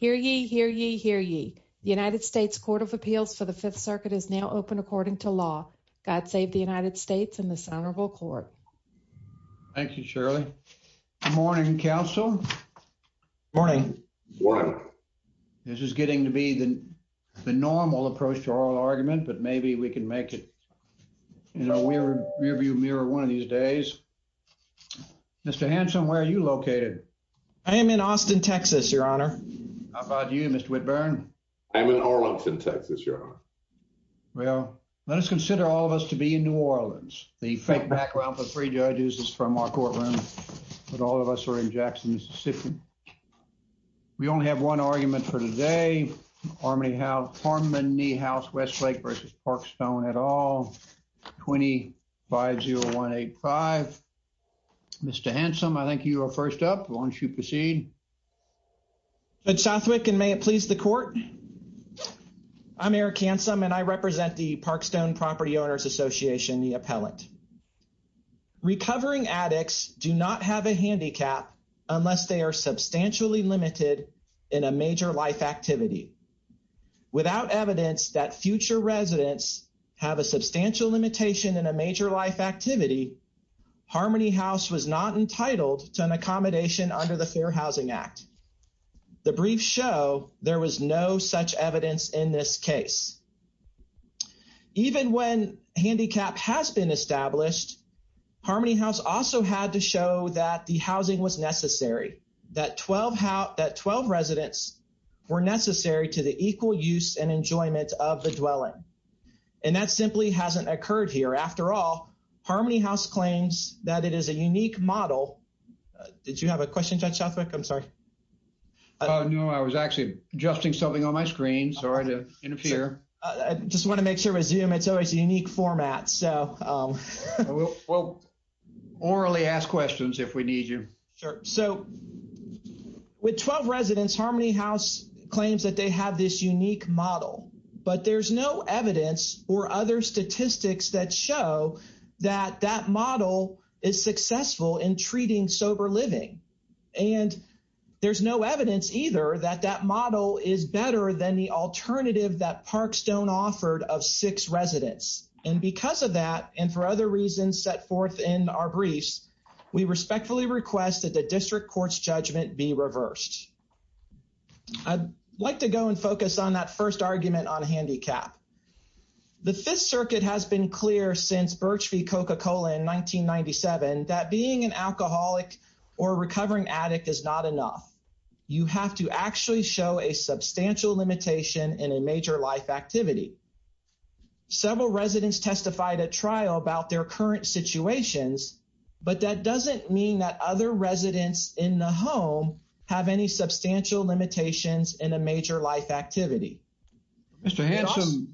Hear ye, hear ye, hear ye. The United States Court of Appeals for the Fifth Circuit is now open according to law. God save the United States and this honorable court. Thank you, Shirley. Good morning, counsel. Morning. Morning. This is getting to be the normal approach to oral argument, but maybe we can make it, you know, we're rear view mirror one of these days. Mr. Hanson, where are you located? I am in Austin, Texas, your honor. How about you, Mr. Whitburn? I'm in Arlington, Texas, your honor. Well, let us consider all of us to be in New Orleans. The fake background for three judges is from our courtroom, but all of us are in Jackson, Mississippi. We only have one argument for today. Harmony Haus Westlake v. Parkstone et al. 25-0185. Mr. Hanson, I think you are first up. Why don't you proceed? Judge Southwick, and may it please the court. I'm Eric Hanson and I represent the Parkstone Property Owners Association, the appellate. Recovering addicts do not have a handicap unless they are substantially limited in a major life activity. Without evidence that future residents have a substantial limitation in a major life activity, Harmony Haus was not entitled to an accommodation under the Fair Housing Act. The briefs show there was no such evidence in this case. Even when handicap has been established, Harmony Haus also had to show that the housing was necessary that 12 residents were necessary to the equal use and enjoyment of the dwelling. And that simply hasn't occurred here. After all, Harmony Haus claims that it is a unique model. Did you have a question, Judge Southwick? I'm sorry. No, I was actually adjusting something on my screen. Sorry to interfere. Just want to make sure with Zoom, it's always a unique format, so. We'll orally ask questions if we need you. Sure, so with 12 residents, Harmony Haus claims that they have this unique model, but there's no evidence or other statistics that show that that model is successful in treating sober living. And there's no evidence either that that model is better than the alternative that Parkstone offered of six residents. And because of that, and for other reasons set forth in our briefs, we respectfully request that the district court's judgment be reversed. I'd like to go and focus on that first argument on a handicap. The Fifth Circuit has been clear since Birch v. Coca-Cola in 1997, that being an alcoholic or recovering addict is not enough. You have to actually show a substantial limitation in a major life activity. Several residents testified at trial about their current situations, but that doesn't mean that other residents in the home have any substantial limitations in a major life activity. Mr. Hanson,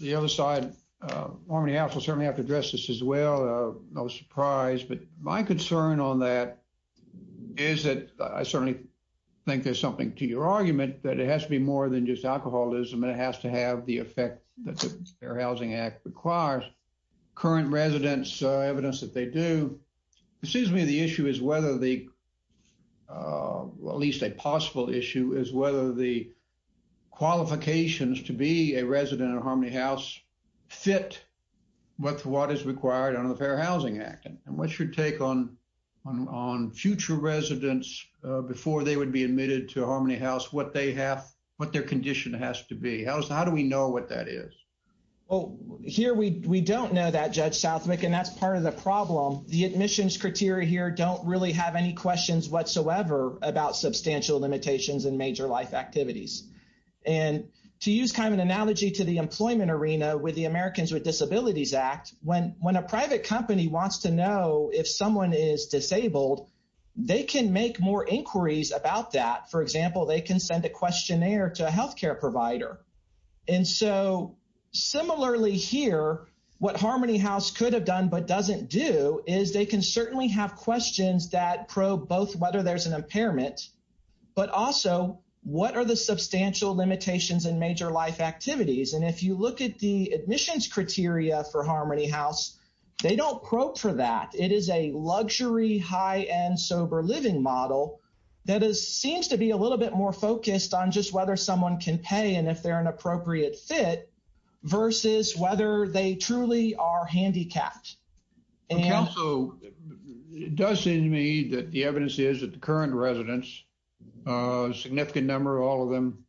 the other side, Harmony Haus will certainly have to address this as well. No surprise, but my concern on that is that I certainly think there's something to your argument that it has to be more than just alcoholism and it has to have the effect that the Fair Housing Act requires. Current residents, evidence that they do, it seems to me the issue is whether the, well, at least a possible issue is whether the qualifications to be a resident of Harmony Haus fit with what is required under the Fair Housing Act and what's your take on future residents before they would be admitted to Harmony Haus, what their condition has to be? How do we know what that is? Well, here we don't know that, Judge Southwick, and that's part of the problem. The admissions criteria here don't really have any questions whatsoever about substantial limitations in major life activities. And to use kind of an analogy to the employment arena with the Americans with Disabilities Act, when a private company wants to know if someone is disabled, they can make more inquiries about that. For example, they can send a questionnaire to a healthcare provider. And so, similarly here, what Harmony Haus could have done but doesn't do is they can certainly have questions that probe both whether there's an impairment, but also what are the substantial limitations in major life activities? And if you look at the admissions criteria for Harmony Haus, they don't probe for that. It is a luxury, high-end, sober living model that seems to be a little bit more focused on just whether someone can pay and if they're an appropriate fit versus whether they truly are handicapped. And also, it does seem to me that the evidence is that the current residents, a significant number, all of them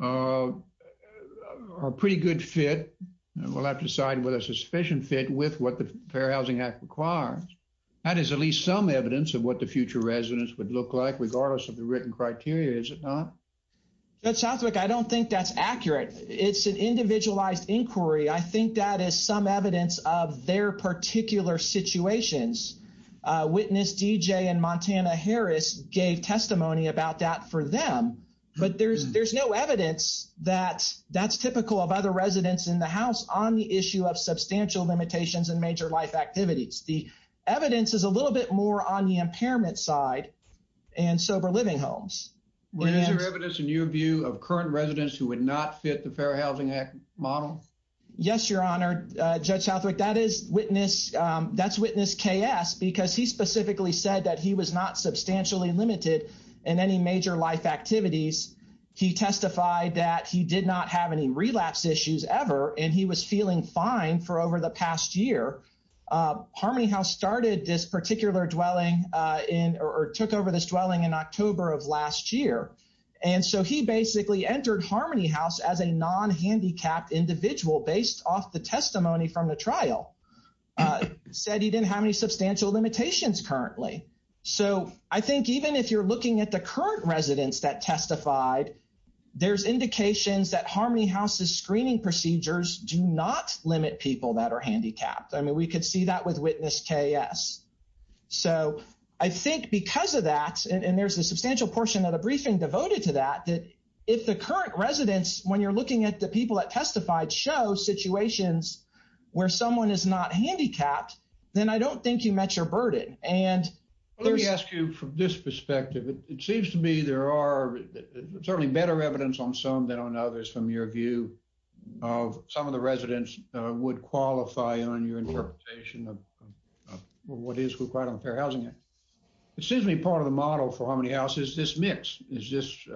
are pretty good fit. We'll have to decide whether it's a sufficient fit with what the Fair Housing Act requires. That is at least some evidence of what the future residents would look like, regardless of the written criteria, is it not? That sounds like, I don't think that's accurate. It's an individualized inquiry. I think that is some evidence of their particular situations. Witness DJ and Montana Harris gave testimony about that for them, but there's no evidence that that's typical of other residents in the house on the issue of substantial limitations in major life activities. The evidence is a little bit more on the impairment side and sober living homes. What is your evidence in your view of current residents who would not fit the Fair Housing Act model? Yes, Your Honor. Judge Southwick, that's Witness KS, because he specifically said that he was not substantially limited in any major life activities. He testified that he did not have any relapse issues ever, and he was feeling fine for over the past year. Harmony House started this particular dwelling in, or took over this dwelling in October of last year. And so he basically entered Harmony House as a non-handicapped individual based off the testimony from the trial. Said he didn't have any substantial limitations currently. So I think even if you're looking at the current residents that testified, there's indications that Harmony House's screening procedures do not limit people that are handicapped. I mean, we could see that with Witness KS. So I think because of that, and there's a substantial portion of the briefing devoted to that, that if the current residents, when you're looking at the people that testified, show situations where someone is not handicapped, then I don't think you met your burden. And there's- Let me ask you from this perspective, it seems to me there are certainly better evidence on some than on others, from your view of some of the residents would qualify on your interpretation of what is required on the Fair Housing Act. It seems to be part of the model for Harmony House is this mix. Is this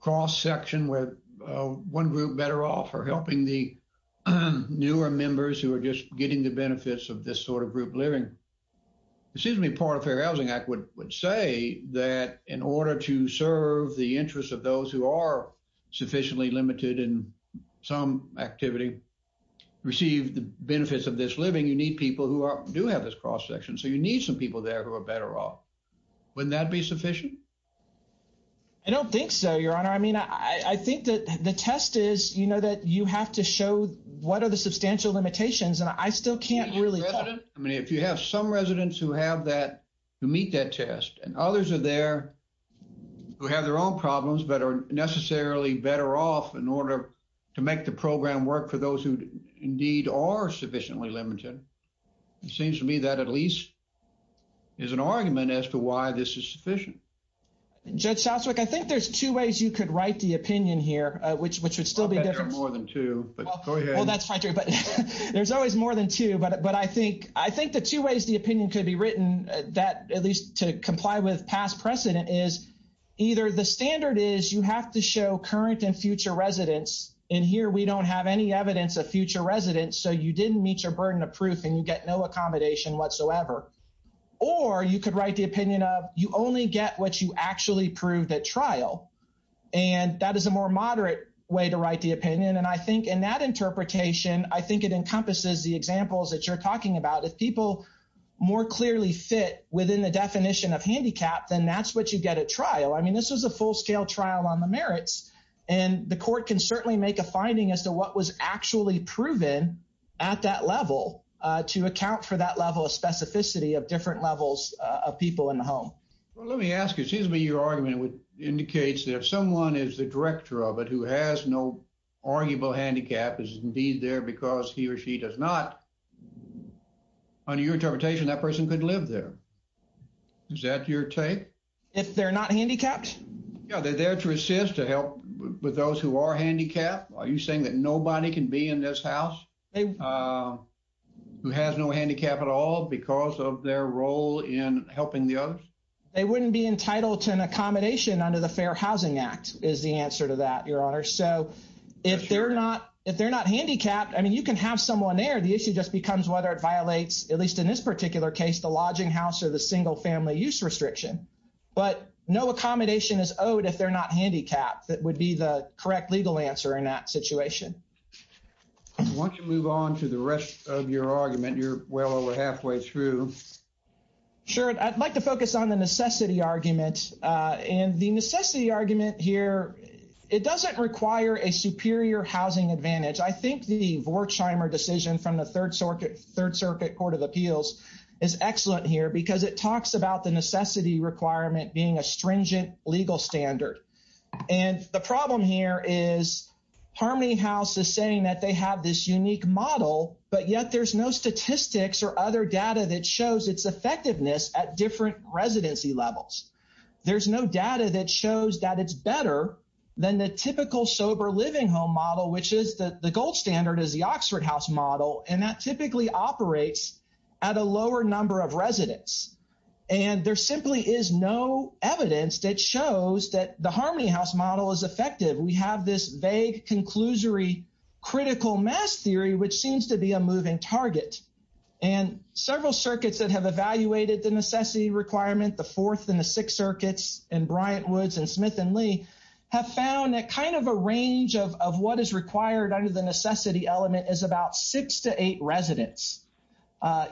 cross-section where one group better off are helping the newer members who are just getting the benefits of this sort of group living. It seems to me part of Fair Housing Act would say that in order to serve the interests of those who are sufficiently limited in some activity, receive the benefits of this living, you need people who do have this cross-section. So you need some people there who are better off. Wouldn't that be sufficient? I don't think so, Your Honor. I mean, I think that the test is, you know that you have to show what are the substantial limitations and I still can't really tell. I mean, if you have some residents who have that, who meet that test and others are there who have their own problems but are necessarily better off in order to make the program work for those who indeed are sufficiently limited. It seems to me that at least is an argument as to why this is sufficient. Judge Southwick, I think there's two ways you could write the opinion here, which would still be different. I bet there are more than two, but go ahead. Well, that's fine too, but there's always more than two. But I think the two ways the opinion could be written that at least to comply with past precedent is either the standard is you have to show current and future residents, and here we don't have any evidence of future residents. So you didn't meet your burden of proof and you get no accommodation whatsoever. Or you could write the opinion of you only get what you actually proved at trial. And that is a more moderate way to write the opinion. And I think in that interpretation, I think it encompasses the examples that you're talking about. If people more clearly fit within the definition of handicap then that's what you get at trial. I mean, this was a full-scale trial on the merits and the court can certainly make a finding as to what was actually proven at that level to account for that level of specificity of different levels of people in the home. Well, let me ask you, it seems to me your argument indicates that if someone is the director of it who has no arguable handicap is indeed there because he or she does not, under your interpretation, that person could live there. Is that your take? If they're not handicapped? Yeah, they're there to assist, to help with those who are handicapped. Are you saying that nobody can be in this house? Who has no handicap at all because of their role in helping the others? They wouldn't be entitled to an accommodation under the Fair Housing Act is the answer to that, your honor. So if they're not handicapped, I mean, you can have someone there. The issue just becomes whether it violates, at least in this particular case, the lodging house or the single family use restriction. But no accommodation is owed if they're not handicapped. That would be the correct legal answer in that situation. I want to move on to the rest of your argument. You're well over halfway through. Sure, I'd like to focus on the necessity argument. And the necessity argument here, it doesn't require a superior housing advantage. I think the Vorkheimer decision from the Third Circuit Court of Appeals is excellent here because it talks about the necessity requirement being a stringent legal standard. And the problem here is Harmony House is saying that they have this unique model, but yet there's no statistics or other data that shows its effectiveness at different residency levels. There's no data that shows that it's better than the typical sober living home model, which is the gold standard is the Oxford House model. And that typically operates at a lower number of residents. And there simply is no evidence that shows that the Harmony House model is effective. We have this vague conclusory critical mass theory, which seems to be a moving target. And several circuits that have evaluated the necessity requirement, the Fourth and the Sixth Circuits and Bryant Woods and Smith and Lee have found that kind of a range of what is required under the necessity element is about six to eight residents.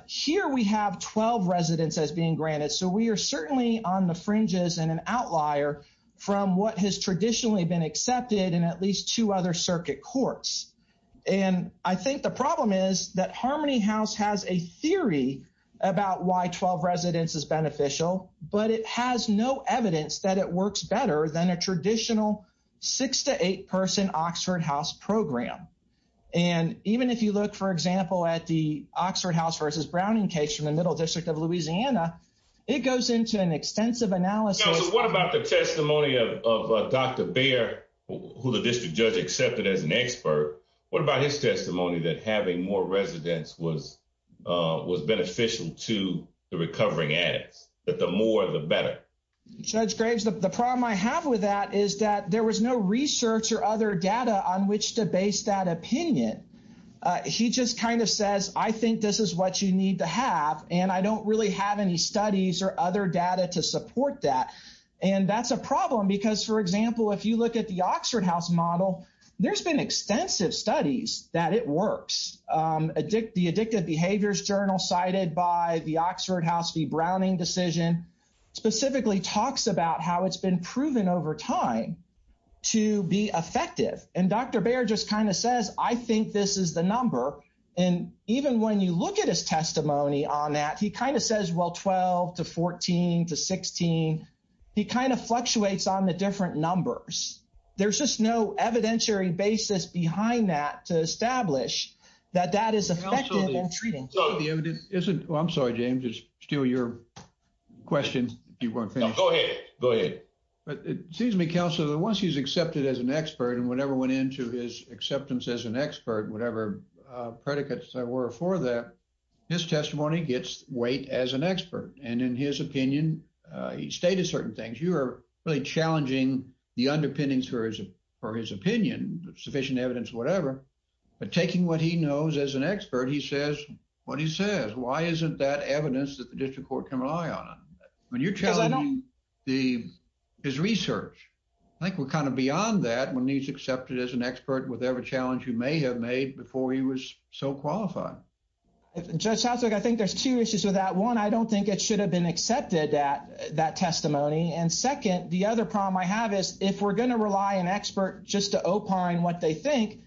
Here we have 12 residents as being granted. So we are certainly on the fringes and an outlier from what has traditionally been accepted in at least two other circuit courts. And I think the problem is that Harmony House has a theory about why 12 residents is beneficial, but it has no evidence that it works better than a traditional six to eight person Oxford House program. And even if you look, for example, at the Oxford House versus Browning case from the Middle District of Louisiana, it goes into an extensive analysis. So what about the testimony of Dr. Baer, who the district judge accepted as an expert? What about his testimony that having more residents was beneficial to the recovering addicts, that the more the better? Judge Graves, the problem I have with that is that there was no research or other data on which to base that opinion. He just kind of says, I think this is what you need to have. And I don't really have any studies or other data to support that. And that's a problem because, for example, if you look at the Oxford House model, there's been extensive studies that it works. The Addictive Behaviors Journal cited by the Oxford House v. Browning decision specifically talks about how it's been proven over time to be effective. And Dr. Baer just kind of says, I think this is the number. And even when you look at his testimony on that, he kind of says, well, 12 to 14 to 16, he kind of fluctuates on the different numbers. There's just no evidentiary basis behind that to establish that that is effective in treating. So the evidence isn't, well, I'm sorry, James, it's still your question. Go ahead, go ahead. But it seems to me, counsel, that once he's accepted as an expert and whatever went into his acceptance as an expert, whatever predicates there were for that, his testimony gets weight as an expert. And in his opinion, he stated certain things. You are really challenging the underpinnings for his opinion, sufficient evidence, whatever, but taking what he knows as an expert, he says what he says. Why isn't that evidence that the district court can rely on? When you're challenging his research, I think we're kind of beyond that when he's accepted as an expert with every challenge you may have made before he was so qualified. Judge Southwick, I think there's two issues with that. One, I don't think it should have been accepted at that testimony. And second, the other problem I have is if we're gonna rely an expert just to opine what they think,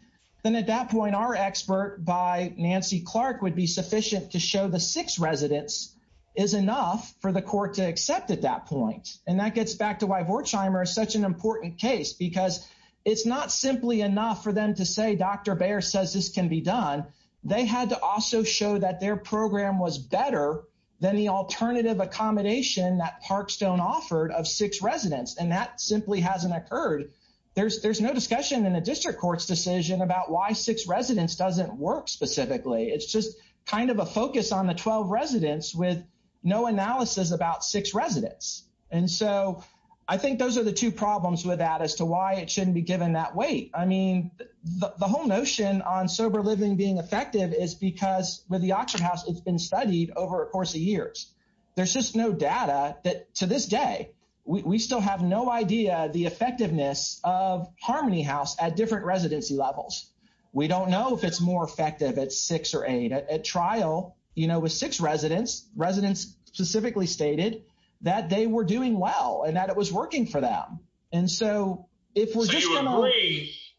then at that point, our expert by Nancy Clark would be sufficient to show the six residents is enough for the court to accept at that point. And that gets back to why Vortscheimer is such an important case because it's not simply enough for them to say, Dr. Baer says this can be done. They had to also show that their program was better than the alternative accommodation that Parkstone offered of six residents. And that simply hasn't occurred. There's no discussion in a district court's decision about why six residents doesn't work specifically. It's just kind of a focus on the 12 residents with no analysis about six residents. And so I think those are the two problems with that as to why it shouldn't be given that weight. I mean, the whole notion on sober living being effective is because with the Oxford House, it's been studied over a course of years. There's just no data that to this day, we still have no idea the effectiveness of Harmony House at different residency levels. We don't know if it's more effective at six or eight. At trial, you know, with six residents, residents specifically stated that they were doing well and that it was working for them. And so if we're just gonna-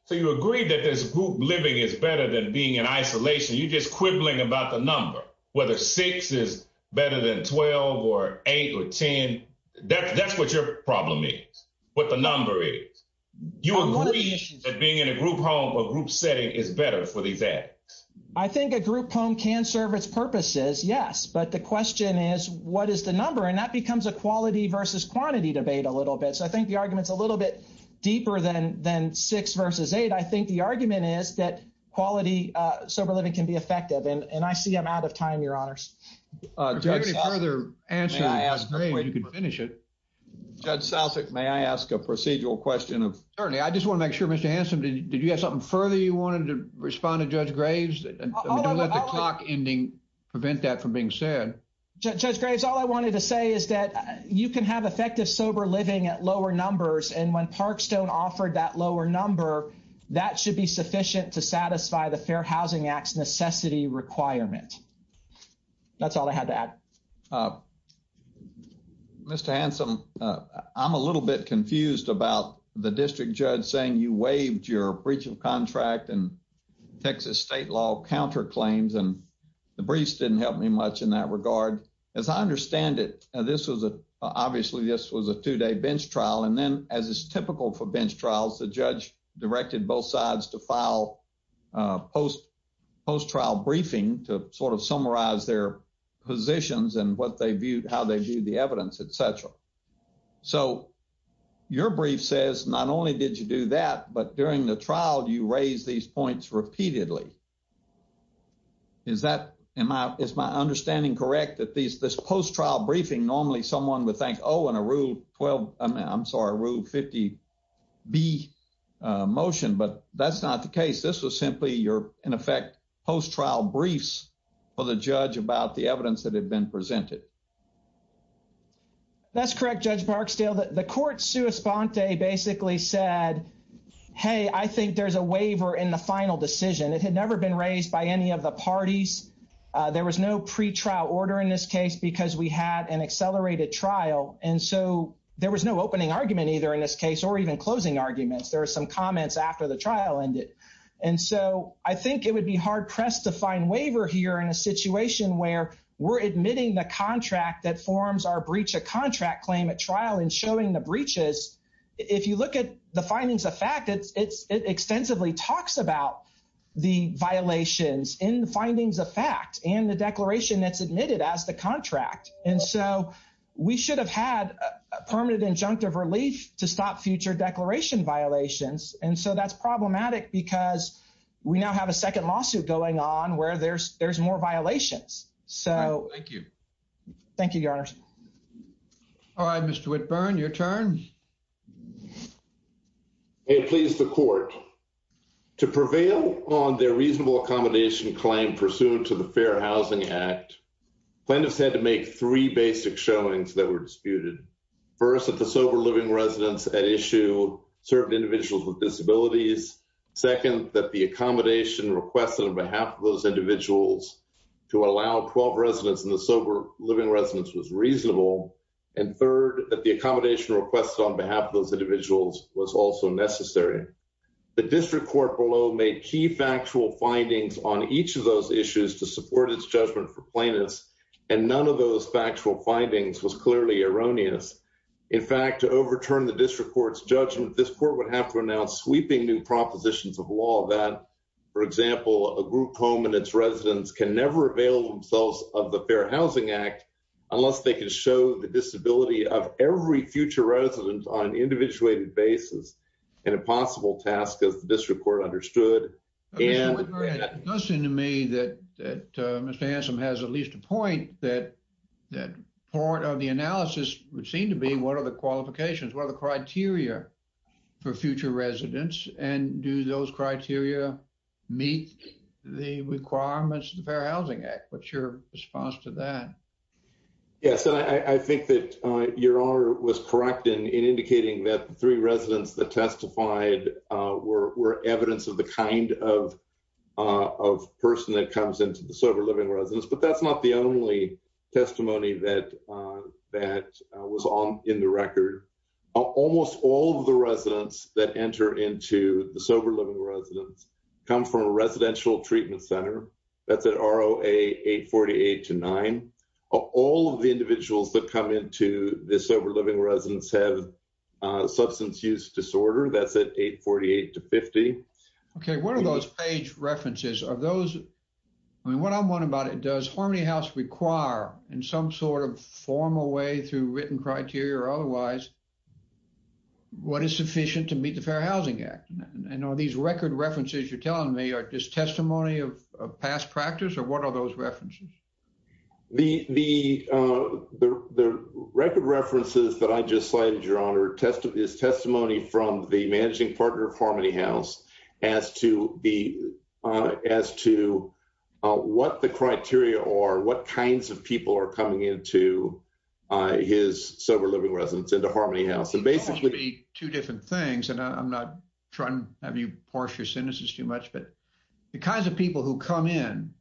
So you agree that this group living is better than being in isolation. You're just quibbling about the number, whether six is better than 12 or eight or 10. That's what your problem is, what the number is. You agree that being in a group home or group setting is better for these addicts. I think a group home can serve its purposes, yes. But the question is, what is the number? And that becomes a quality versus quantity debate a little bit. So I think the argument's a little bit deeper than six versus eight. I think the argument is that quality sober living can be effective. And I see I'm out of time, your honors. Judge Sousek, may I ask a procedural question of attorney? I just wanna make sure, Mr. Hanson, did you have something further you wanted to respond to Judge Graves? I mean, don't let the clock ending prevent that from being said. Judge Graves, all I wanted to say is that you can have effective sober living at lower numbers and when Parkstone offered that lower number, that should be sufficient to satisfy the Fair Housing Act's necessity requirement. That's all I had to add. Mr. Hanson, I'm a little bit confused about the district judge saying you waived your breach of contract and Texas state law counterclaims and the briefs didn't help me much in that regard. As I understand it, obviously this was a two-day bench trial and then as is typical for bench trials, the judge directed both sides to file post-trial briefing to sort of summarize their positions and how they viewed the evidence, et cetera. So your brief says not only did you do that, but during the trial, you raised these points repeatedly. Is my understanding correct that this post-trial briefing, normally someone would think, oh, in a rule 12, I'm sorry, rule 50B motion, but that's not the case. This was simply your, in effect, post-trial briefs for the judge about the evidence that had been presented. That's correct, Judge Barksdale. The court's sua sponte basically said, hey, I think there's a waiver in the final decision. It had never been raised by any of the parties. There was no pretrial order in this case because we had an accelerated trial. And so there was no opening argument either in this case or even closing arguments. There were some comments after the trial ended. And so I think it would be hard pressed to find waiver here in a situation where we're admitting the contract that forms our breach of contract claim at trial and showing the breaches. If you look at the findings of fact, it extensively talks about the violations in the findings of fact and the declaration that's admitted as the contract. And so we should have had a permanent injunctive relief to stop future declaration violations. And so that's problematic because we now have a second lawsuit going on where there's more violations. So- Thank you. Thank you, Your Honor. All right, Mr. Whitburn, your turn. May it please the court. To prevail on their reasonable accommodation claim pursuant to the Fair Housing Act, plaintiffs had to make three basic showings that were disputed. First, that the sober living residents had issued certain individuals with disabilities. Second, that the accommodation requested on behalf of those individuals to allow 12 residents in the sober living residence was reasonable. And third, that the accommodation requested on behalf of those individuals was also necessary. The district court below made key factual findings on each of those issues to support its judgment for plaintiffs. And none of those factual findings was clearly erroneous. In fact, to overturn the district court's judgment, this court would have to announce sweeping new propositions of law that, for example, a group home and its residents can never avail themselves of the Fair Housing Act unless they can show the disability of every future resident on an individuated basis in a possible task, as the district court understood. And- Mr. Whitmer, it does seem to me that Mr. Hansen has at least a point that part of the analysis would seem to be what are the qualifications, what are the criteria for future residents? And do those criteria meet the requirements of the Fair Housing Act? What's your response to that? Yes, and I think that your honor was correct in indicating that the three residents that testified were evidence of the kind of person that comes into the sober living residence, but that's not the only testimony that was on in the record. Almost all of the residents that enter into the sober living residence come from a residential treatment center. That's at ROA 848-9. All of the individuals that come into this sober living residence have substance use disorder. That's at 848-50. Okay, what are those page references? Are those, I mean, what I'm wondering about it, does Harmony House require in some sort of formal way through written criteria or otherwise, what is sufficient to meet the Fair Housing Act? And are these record references you're telling me are just testimony of past practice or what are those references? The record references that I just cited, your honor, is testimony from the managing partner of Harmony House as to what the criteria are, what kinds of people are coming into his sober living residence into Harmony House. And basically- It could be two different things and I'm not trying to have you parse your sentences too much but the kinds of people who come in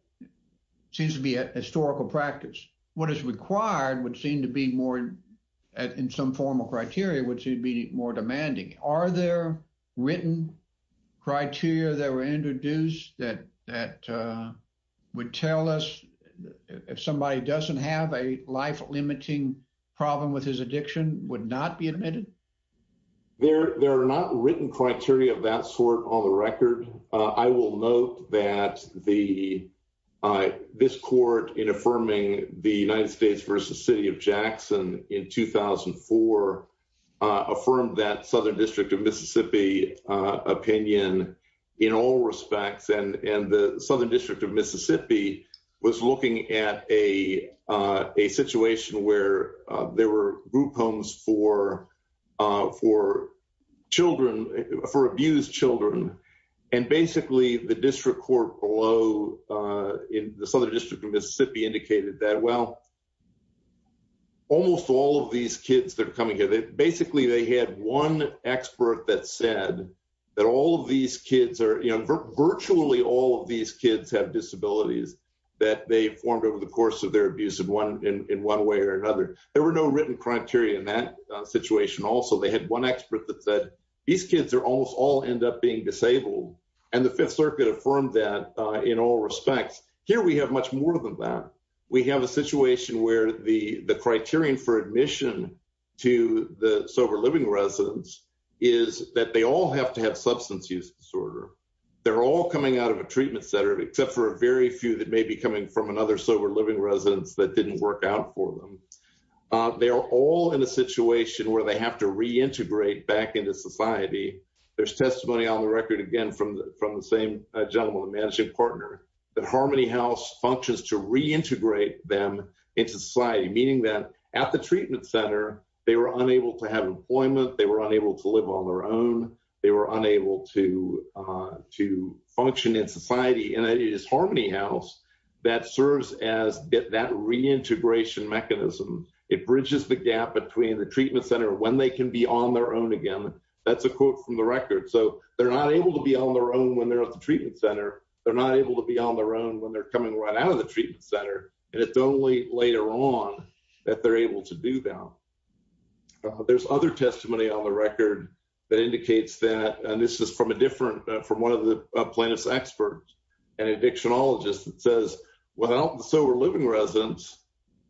seems to be a historical practice. What is required would seem to be more, in some formal criteria, would seem to be more demanding. Are there written criteria that were introduced that would tell us if somebody doesn't have a life-limiting problem with his addiction would not be admitted? There are not written criteria of that sort on the record. I will note that this court in affirming the United States versus City of Jackson in 2004 affirmed that Southern District of Mississippi opinion in all respects. And the Southern District of Mississippi was looking at a situation where there were group homes for abused children. And basically the district court below in the Southern District of Mississippi indicated that, well, almost all of these kids that are coming here, basically they had one expert that said that all of these kids are, virtually all of these kids have disabilities that they formed over the course of their abuse in one way or another. There were no written criteria in that situation also. They had one expert that said, these kids are almost all end up being disabled. And the Fifth Circuit affirmed that in all respects. Here we have much more than that. We have a situation where the criterion for admission to the sober living residents is that they all have to have substance use disorder. They're all coming out of a treatment center, except for a very few that may be coming from another sober living residence that didn't work out for them. They are all in a situation where they have to reintegrate back into society. There's testimony on the record again from the same gentleman, the managing partner, that Harmony House functions to reintegrate them into society, meaning that at the treatment center, they were unable to have employment. They were unable to live on their own. They were unable to function in society. And it is Harmony House that serves as that reintegration mechanism. It bridges the gap between the treatment center when they can be on their own again. That's a quote from the record. So they're not able to be on their own when they're at the treatment center. They're not able to be on their own when they're coming right out of the treatment center. And it's only later on that they're able to do that. There's other testimony on the record that indicates that, and this is from a different, from one of the plaintiff's experts, an addictionologist that says, without the sober living residents,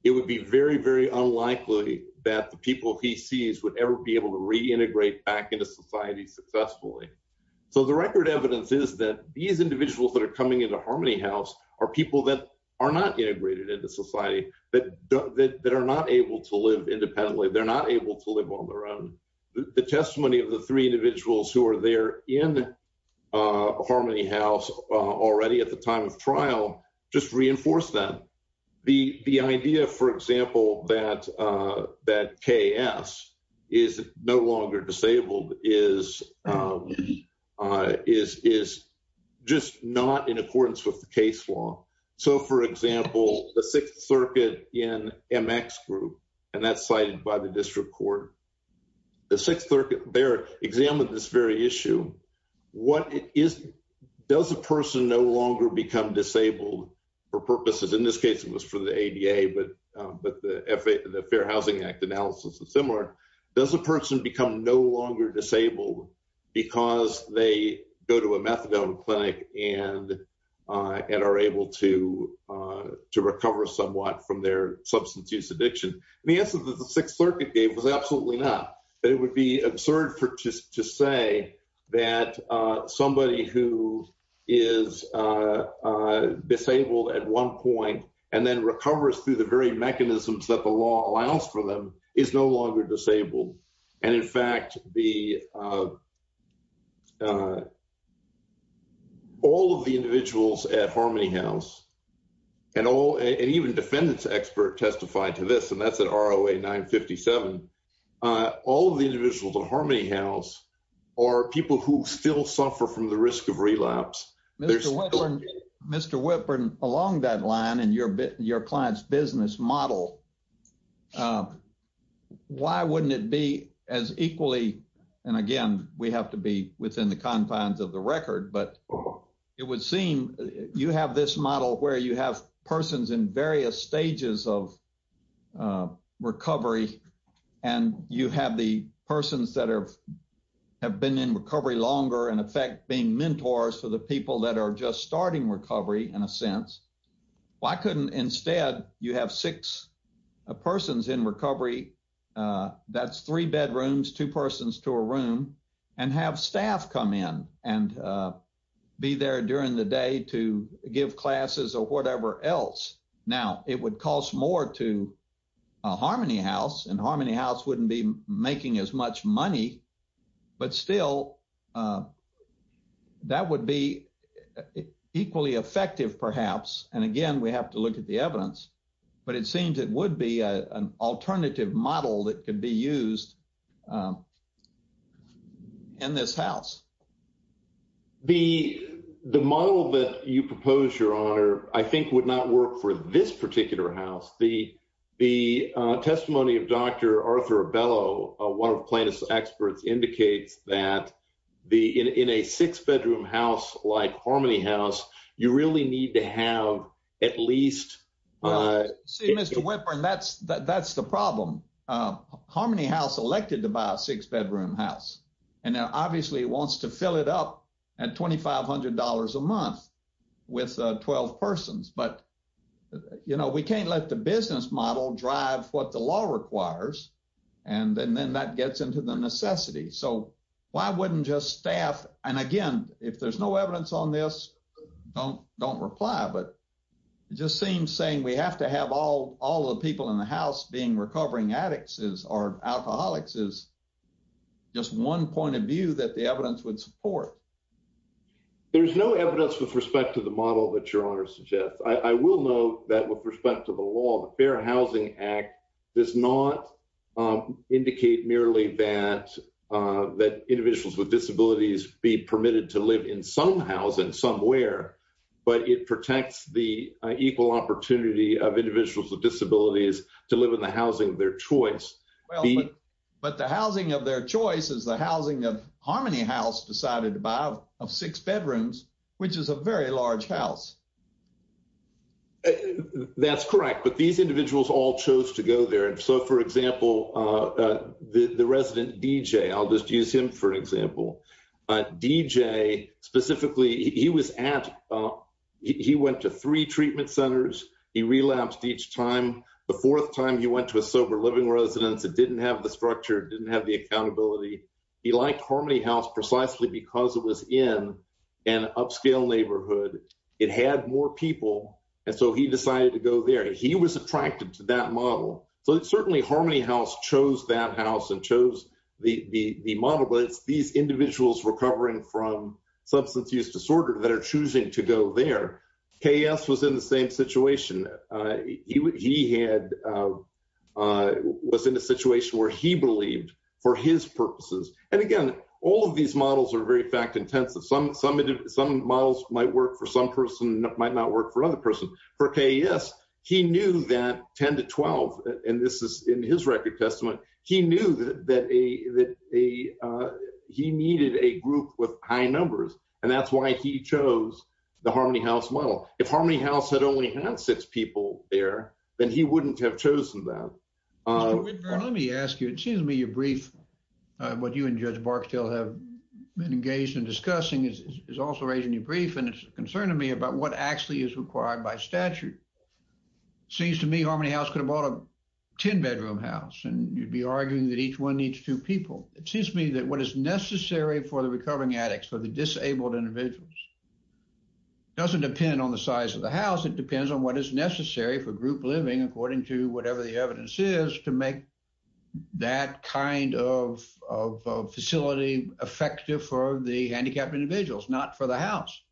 it would be very, very unlikely that the people he sees would ever be able to reintegrate back into society successfully. So the record evidence is that these individuals that are coming into Harmony House are people that are not integrated into society, that are not able to live independently. They're not able to live on their own. The testimony of the three individuals who are there in Harmony House already at the time of trial just reinforce that. The idea, for example, that KS is no longer disabled is just not in accordance with the case law. So for example, the Sixth Circuit in MX Group, and that's cited by the district court, the Sixth Circuit there examined this very issue. What it is, does a person no longer become disabled for purposes, in this case, it was for the ADA, but the Fair Housing Act analysis is similar. Does a person become no longer disabled because they go to a methadone clinic and are able to recover somewhat from their substance use addiction? And the answer that the Sixth Circuit gave was absolutely not, that it would be absurd to say that somebody who is disabled at one point and then recovers through the very mechanisms that the law allows for them is no longer disabled. And in fact, all of the individuals at Harmony House and even defendants expert testified to this, and that's at ROA 957, all of the individuals at Harmony House are people who still suffer from the risk of relapse. There's- Mr. Whitburn, along that line and your client's business model, why wouldn't it be as equally, and again, we have to be within the confines of the record, but it would seem you have this model where you have persons in various stages of recovery and you have the persons that have been in recovery longer and effect being mentors for the people that are just starting recovery in a sense. Why couldn't instead, you have six persons in recovery, that's three bedrooms, two persons to a room and have staff come in and be there during the day to give classes or whatever else. Now, it would cost more to a Harmony House and Harmony House wouldn't be making as much money, but still that would be equally effective perhaps. And again, we have to look at the evidence, but it seems it would be an alternative model that could be used in this house. The model that you propose, your honor, I think would not work for this particular house. The testimony of Dr. Arthur Bellow, one of the plaintiff's experts indicates that in a six bedroom house like Harmony House, you really need to have at least- See, Mr. Whitburn, that's the problem. Harmony House elected to buy a six bedroom house and now obviously wants to fill it up at $2,500 a month with 12 persons. But we can't let the business model drive what the law requires and then that gets into the necessity. So why wouldn't just staff, and again, if there's no evidence on this, don't reply, but it just seems saying we have to have all the people in the house being recovering addicts or alcoholics is just one point of view that the evidence would support. There's no evidence with respect to the model that your honor suggests. I will note that with respect to the law, the Fair Housing Act does not indicate merely that individuals with disabilities be permitted to live in some house and somewhere, but it protects the equal opportunity of individuals with disabilities to live in the housing of their choice. But the housing of their choice is the housing of Harmony House decided by the law. Of six bedrooms, which is a very large house. That's correct. But these individuals all chose to go there. And so for example, the resident DJ, I'll just use him for example. DJ specifically, he went to three treatment centers. He relapsed each time. The fourth time he went to a sober living residence that didn't have the structure, didn't have the accountability. He liked Harmony House precisely because it was in an upscale neighborhood. It had more people. And so he decided to go there. He was attracted to that model. So it's certainly Harmony House chose that house and chose the model, but it's these individuals recovering from substance use disorder that are choosing to go there. KS was in the same situation. He was in a situation where he believed for his purposes. And again, all of these models are very fact-intensive. Some models might work for some person, might not work for another person. For KS, he knew that 10 to 12, and this is in his record testament, he knew that he needed a group with high numbers. And that's why he chose the Harmony House model. If Harmony House had only had six people there, then he wouldn't have chosen that. Mr. Whitburn. Let me ask you, it seems to me your brief, what you and Judge Barksdale have been engaged in discussing is also raising your brief. And it's a concern to me about what actually is required by statute. Seems to me Harmony House could have bought a 10 bedroom house. And you'd be arguing that each one needs two people. It seems to me that what is necessary for the recovering addicts, for the disabled individuals, doesn't depend on the size of the house. It depends on what is necessary for group living, according to whatever the evidence is, to make that kind of facility effective for the handicapped individuals, not for the house.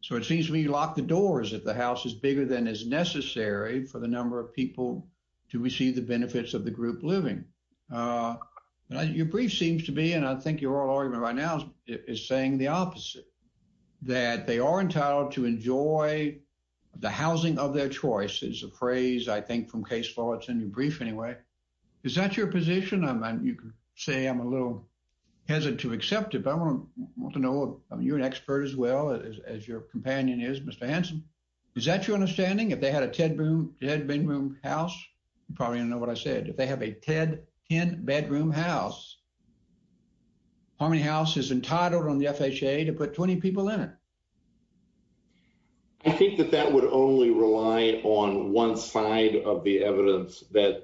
So it seems to me you lock the doors if the house is bigger than is necessary for the number of people to receive the benefits of the group living. Your brief seems to be, and I think your oral argument right now is saying the opposite. That they are entitled to enjoy the housing of their choice is a phrase I think from case law. It's in your brief anyway. Is that your position? You could say I'm a little hesitant to accept it, but I want to know, you're an expert as well as your companion is, Mr. Hanson. Is that your understanding? If they had a 10 bedroom house, you probably know what I said. If they have a 10 bedroom house, Harmony House is entitled on the FHA to put 20 people in it. I think that that would only rely on one side of the evidence that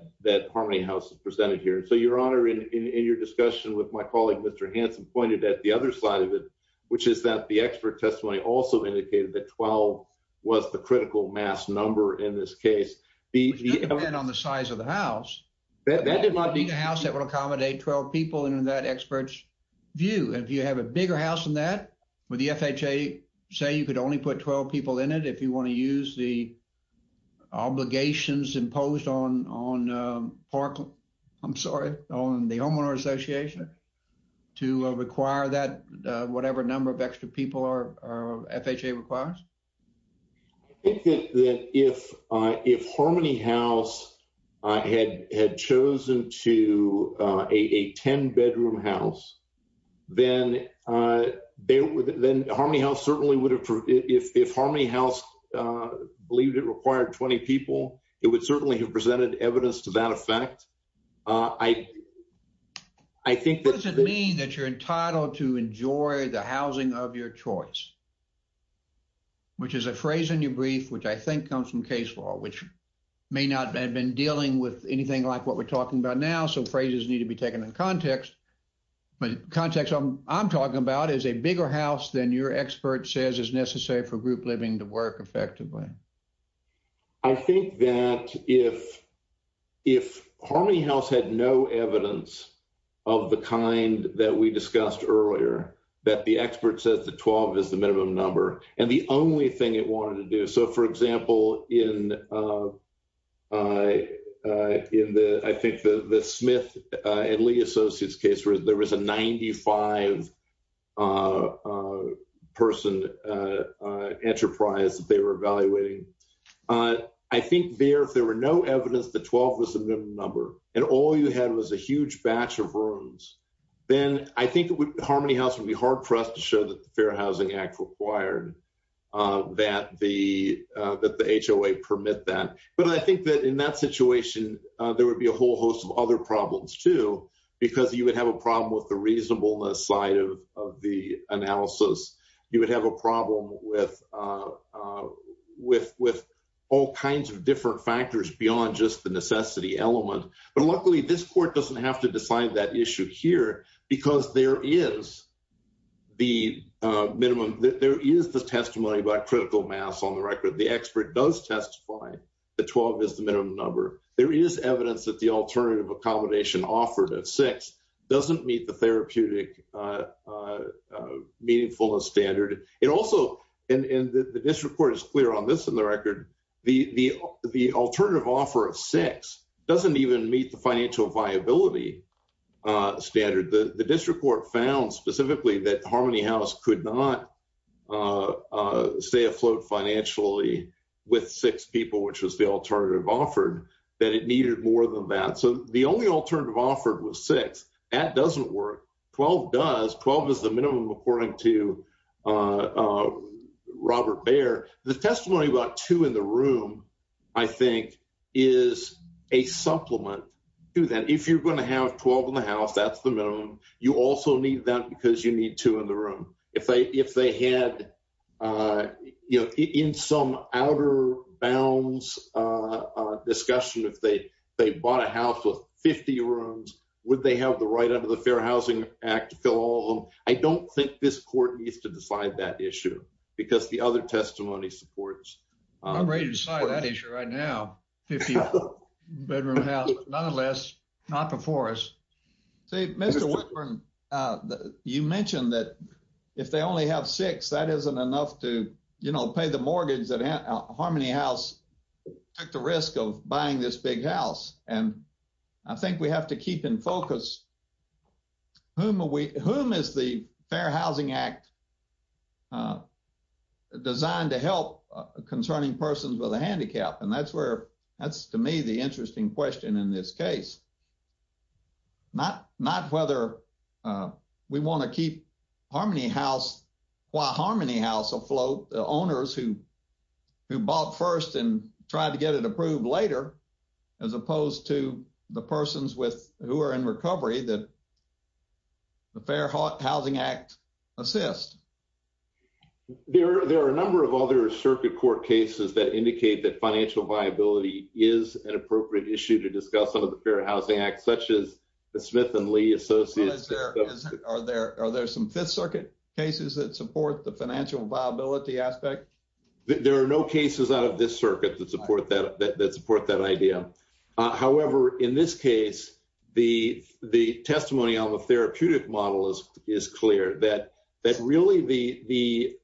Harmony House has presented here. So Your Honor, in your discussion with my colleague, Mr. Hanson pointed at the other side of it, which is that the expert testimony also indicated that 12 was the critical mass number in this case. The- It doesn't depend on the size of the house. That did not mean- It would be a house that would accommodate 12 people in that expert's view. And if you have a bigger house than that, would the FHA say you could only put 12 people in it if you want to use the obligations imposed on Parkland, I'm sorry, on the Homeowner Association to require that whatever number of extra people our FHA requires? I think that if Harmony House had chosen to a 10 bedroom house, then Harmony House certainly would have, if Harmony House believed it required 20 people, it would certainly have presented evidence to that effect. I think that- What does it mean that you're entitled to enjoy the housing of your choice? Which is a phrase in your brief, which I think comes from case law, which may not have been dealing with anything like what we're talking about now. So phrases need to be taken in context, but context I'm talking about is a bigger house than your expert says is necessary for group living to work effectively. I think that if Harmony House had no evidence of the kind that we discussed earlier, that the expert says the 12 is the minimum number and the only thing it wanted to do. So for example, in the, I think the Smith and Lee Associates case, there was a 95 person enterprise that they were evaluating. I think there, if there were no evidence that 12 was the minimum number and all you had was a huge batch of rooms, then I think Harmony House would be hard pressed to show that the Fair Housing Act required that the HOA permit that. But I think that in that situation, there would be a whole host of other problems too, because you would have a problem with the reasonableness side of the analysis. You would have a problem with all kinds of different factors beyond just the necessity element. But luckily this court doesn't have to decide that issue here because there is the minimum, there is the testimony by critical mass on the record. The expert does testify that 12 is the minimum number. There is evidence that the alternative accommodation offered at six doesn't meet the therapeutic meaningfulness standard. It also, and the district court is clear on this in the record, the alternative offer of six doesn't even meet the financial viability standard. The district court found specifically that Harmony House could not stay afloat financially with six people, which was the alternative offered, that it needed more than that. So the only alternative offered was six, that doesn't work. 12 does, 12 is the minimum according to Robert Baer. The testimony about two in the room, I think is a supplement to that. If you're gonna have 12 in the house, that's the minimum. You also need that because you need two in the room. If they had, you know, in some outer bounds discussion, if they bought a house with 50 rooms, would they have the right under the Fair Housing Act to fill all of them? I don't think this court needs to decide that issue because the other testimony supports. I'm ready to decide that issue right now, 50 bedroom house, nonetheless, not before us. See, Mr. Whitman, you mentioned that if they only have six, that isn't enough to, you know, pay the mortgage that Harmony House took the risk of buying this big house. And I think we have to keep in focus, whom is the Fair Housing Act designed to help concerning persons with a handicap? And that's where, that's to me, the interesting question in this case. Not whether we wanna keep Harmony House, why Harmony House afloat, the owners who bought first and tried to get it approved later, as opposed to the persons who are in recovery that the Fair Housing Act assist. There are a number of other circuit court cases that indicate that financial viability is an appropriate issue to discuss under the Fair Housing Act, such as the Smith and Lee Associates. Are there some Fifth Circuit cases that support the financial viability aspect? There are no cases out of this circuit that support that idea. However, in this case, the testimony on the therapeutic model is clear that really the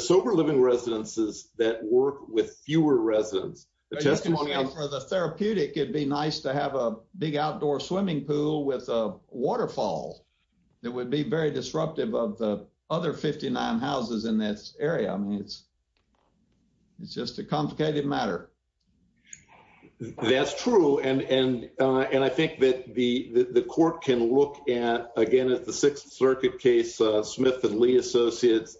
sober living residences that work with fewer residents, the testimony on the therapeutic, it'd be nice to have a big outdoor swimming pool with a waterfall that would be very disruptive of the other 59 houses in this area. I mean, it's just a complicated matter. That's true. And I think that the court can look at, again, at the Sixth Circuit case, Smith and Lee Associates.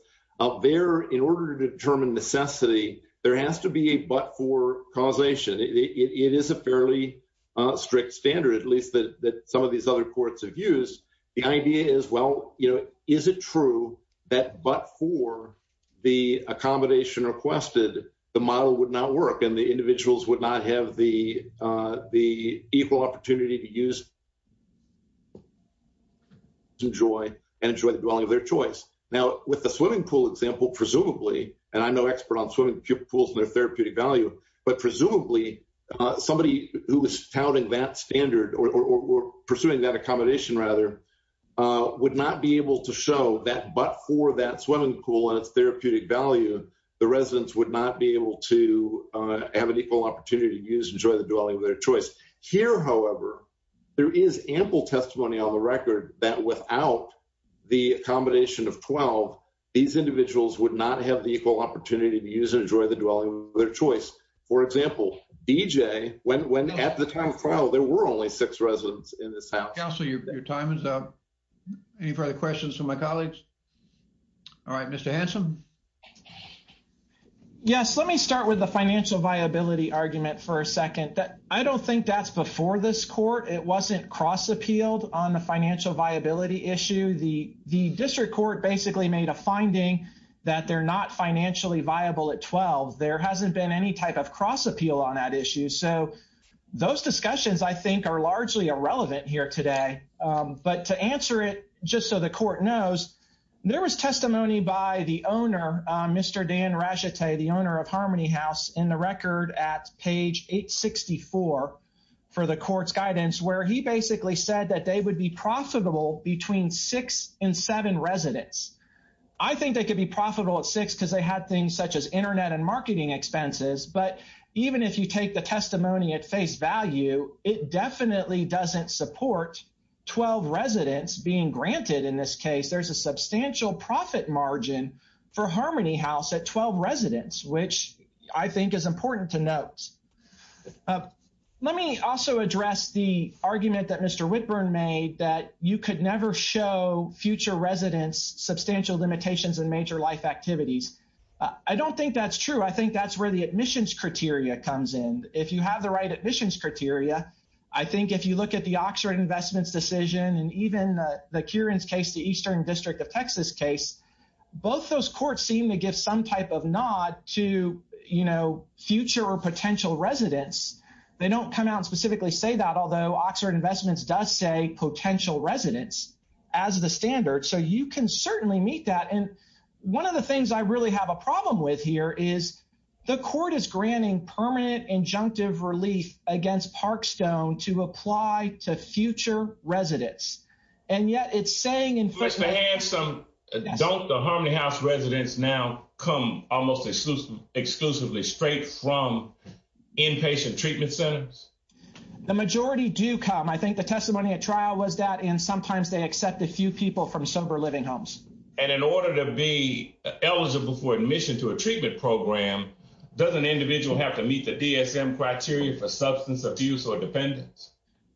There, in order to determine necessity, there has to be a but for causation. It is a fairly strict standard, at least that some of these other courts have used. The idea is, well, is it true that but for the accommodation requested, the model would not work and the individuals would not have the equal opportunity to use, enjoy, and enjoy the dwelling of their choice. Now, with the swimming pool example, presumably, and I'm no expert on swimming pools and their therapeutic value, but presumably, somebody who was touting that standard or pursuing that accommodation, rather, would not be able to show that but for that swimming pool and its therapeutic value, the residents would not be able to have an equal opportunity to use, enjoy the dwelling of their choice. Here, however, there is ample testimony on the record that without the accommodation of 12, these individuals would not have the equal opportunity to use and enjoy the dwelling of their choice. For example, BJ, when at the time of trial, there were only six residents in this house. Councilor, your time is up. Any further questions from my colleagues? All right, Mr. Hanson. Yes, let me start with the financial viability argument for a second. I don't think that's before this court. It wasn't cross-appealed on the financial viability issue. The district court basically made a finding that they're not financially viable at 12. There hasn't been any type of cross-appeal on that issue. So those discussions, I think, are largely irrelevant here today. But to answer it, just so the court knows, there was testimony by the owner, Mr. Dan Rachete, the owner of Harmony House in the record at page 864 for the court's guidance, where he basically said that they would be profitable between six and seven residents. I think they could be profitable at six because they had things such as internet and marketing expenses. But even if you take the testimony at face value, it definitely doesn't support 12 residents being granted in this case. There's a substantial profit margin for Harmony House at 12 residents, which I think is important to note. Let me also address the argument that Mr. Whitburn made that you could never show future residents substantial limitations in major life activities. I don't think that's true. I think that's where the admissions criteria comes in. If you have the right admissions criteria, I think if you look at the Oxford Investments decision and even the Kearns case, the Eastern District of Texas case, both those courts seem to give some type of nod to future or potential residents. They don't come out and specifically say that, they don't have potential residents as the standard. So you can certainly meet that. And one of the things I really have a problem with here is the court is granting permanent injunctive relief against Parkstone to apply to future residents. And yet it's saying- Mr. Hanson, don't the Harmony House residents now come almost exclusively straight from inpatient treatment centers? The majority do come. I think the testimony at trial was that and sometimes they accept a few people from sober living homes. And in order to be eligible for admission to a treatment program, does an individual have to meet the DSM criteria for substance abuse or dependence?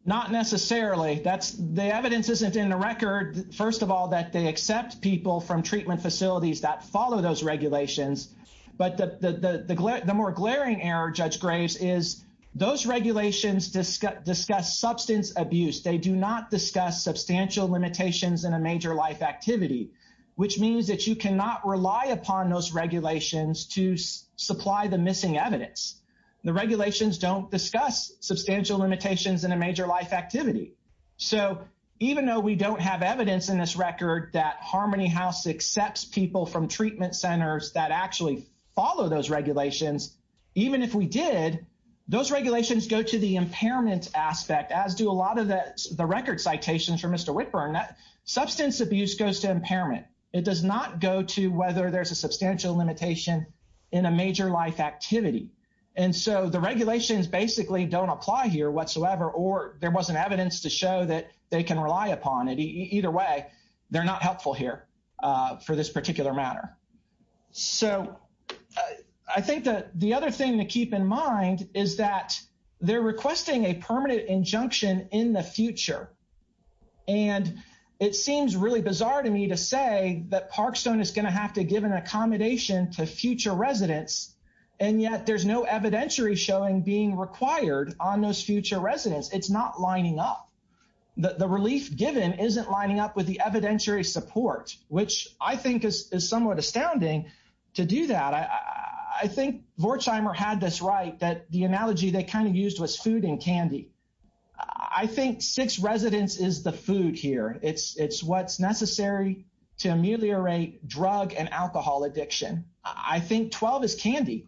Not necessarily. The evidence isn't in the record. First of all, that they accept people from treatment facilities that follow those regulations. But the more glaring error, Judge Graves, is those regulations discuss substance abuse. They do not discuss substantial limitations in a major life activity, which means that you cannot rely upon those regulations to supply the missing evidence. The regulations don't discuss substantial limitations in a major life activity. So even though we don't have evidence in this record that Harmony House accepts people from treatment centers that actually follow those regulations, even if we did, those regulations go to the impairment aspect as do a lot of the record citations from Mr. Whitburn that substance abuse goes to impairment. It does not go to whether there's a substantial limitation in a major life activity. And so the regulations basically don't apply here whatsoever or there wasn't evidence to show that they can rely upon it. Either way, they're not helpful here for this particular matter. So I think that the other thing to keep in mind is that they're requesting a permanent injunction in the future. And it seems really bizarre to me to say that Parkstone is gonna have to give an accommodation to future residents, and yet there's no evidentiary showing being required on those future residents. It's not lining up. The relief given isn't lining up with the evidentiary support, which I think is somewhat astounding to do that. I think Vorzeimer had this right, that the analogy they kind of used was food and candy. I think six residents is the food here. It's what's necessary to ameliorate drug and alcohol addiction. I think 12 is candy.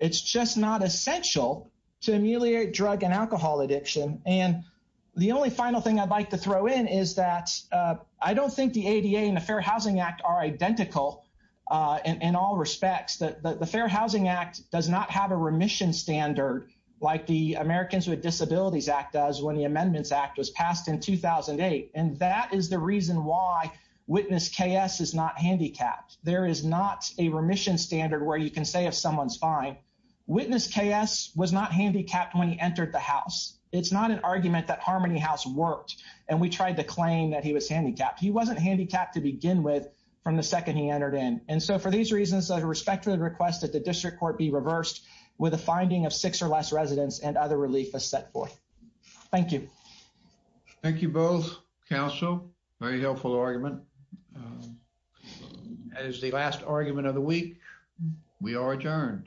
It's just not essential to ameliorate drug and alcohol addiction. And the only final thing I'd like to throw in is that I don't think the ADA and the Fair Housing Act are identical in all respects. The Fair Housing Act does not have a remission standard like the Americans with Disabilities Act does when the Amendments Act was passed in 2008. And that is the reason why Witness KS is not handicapped. There is not a remission standard where you can say if someone's fine. Witness KS was not handicapped when he entered the house. It's not an argument that Harmony House worked. And we tried to claim that he was handicapped. He wasn't handicapped to begin with from the second he entered in. And so for these reasons, I respectfully request that the district court be reversed with a finding of six or less residents and other relief as set forth. Thank you. Thank you both, counsel. Very helpful argument. As the last argument of the week, we are adjourned.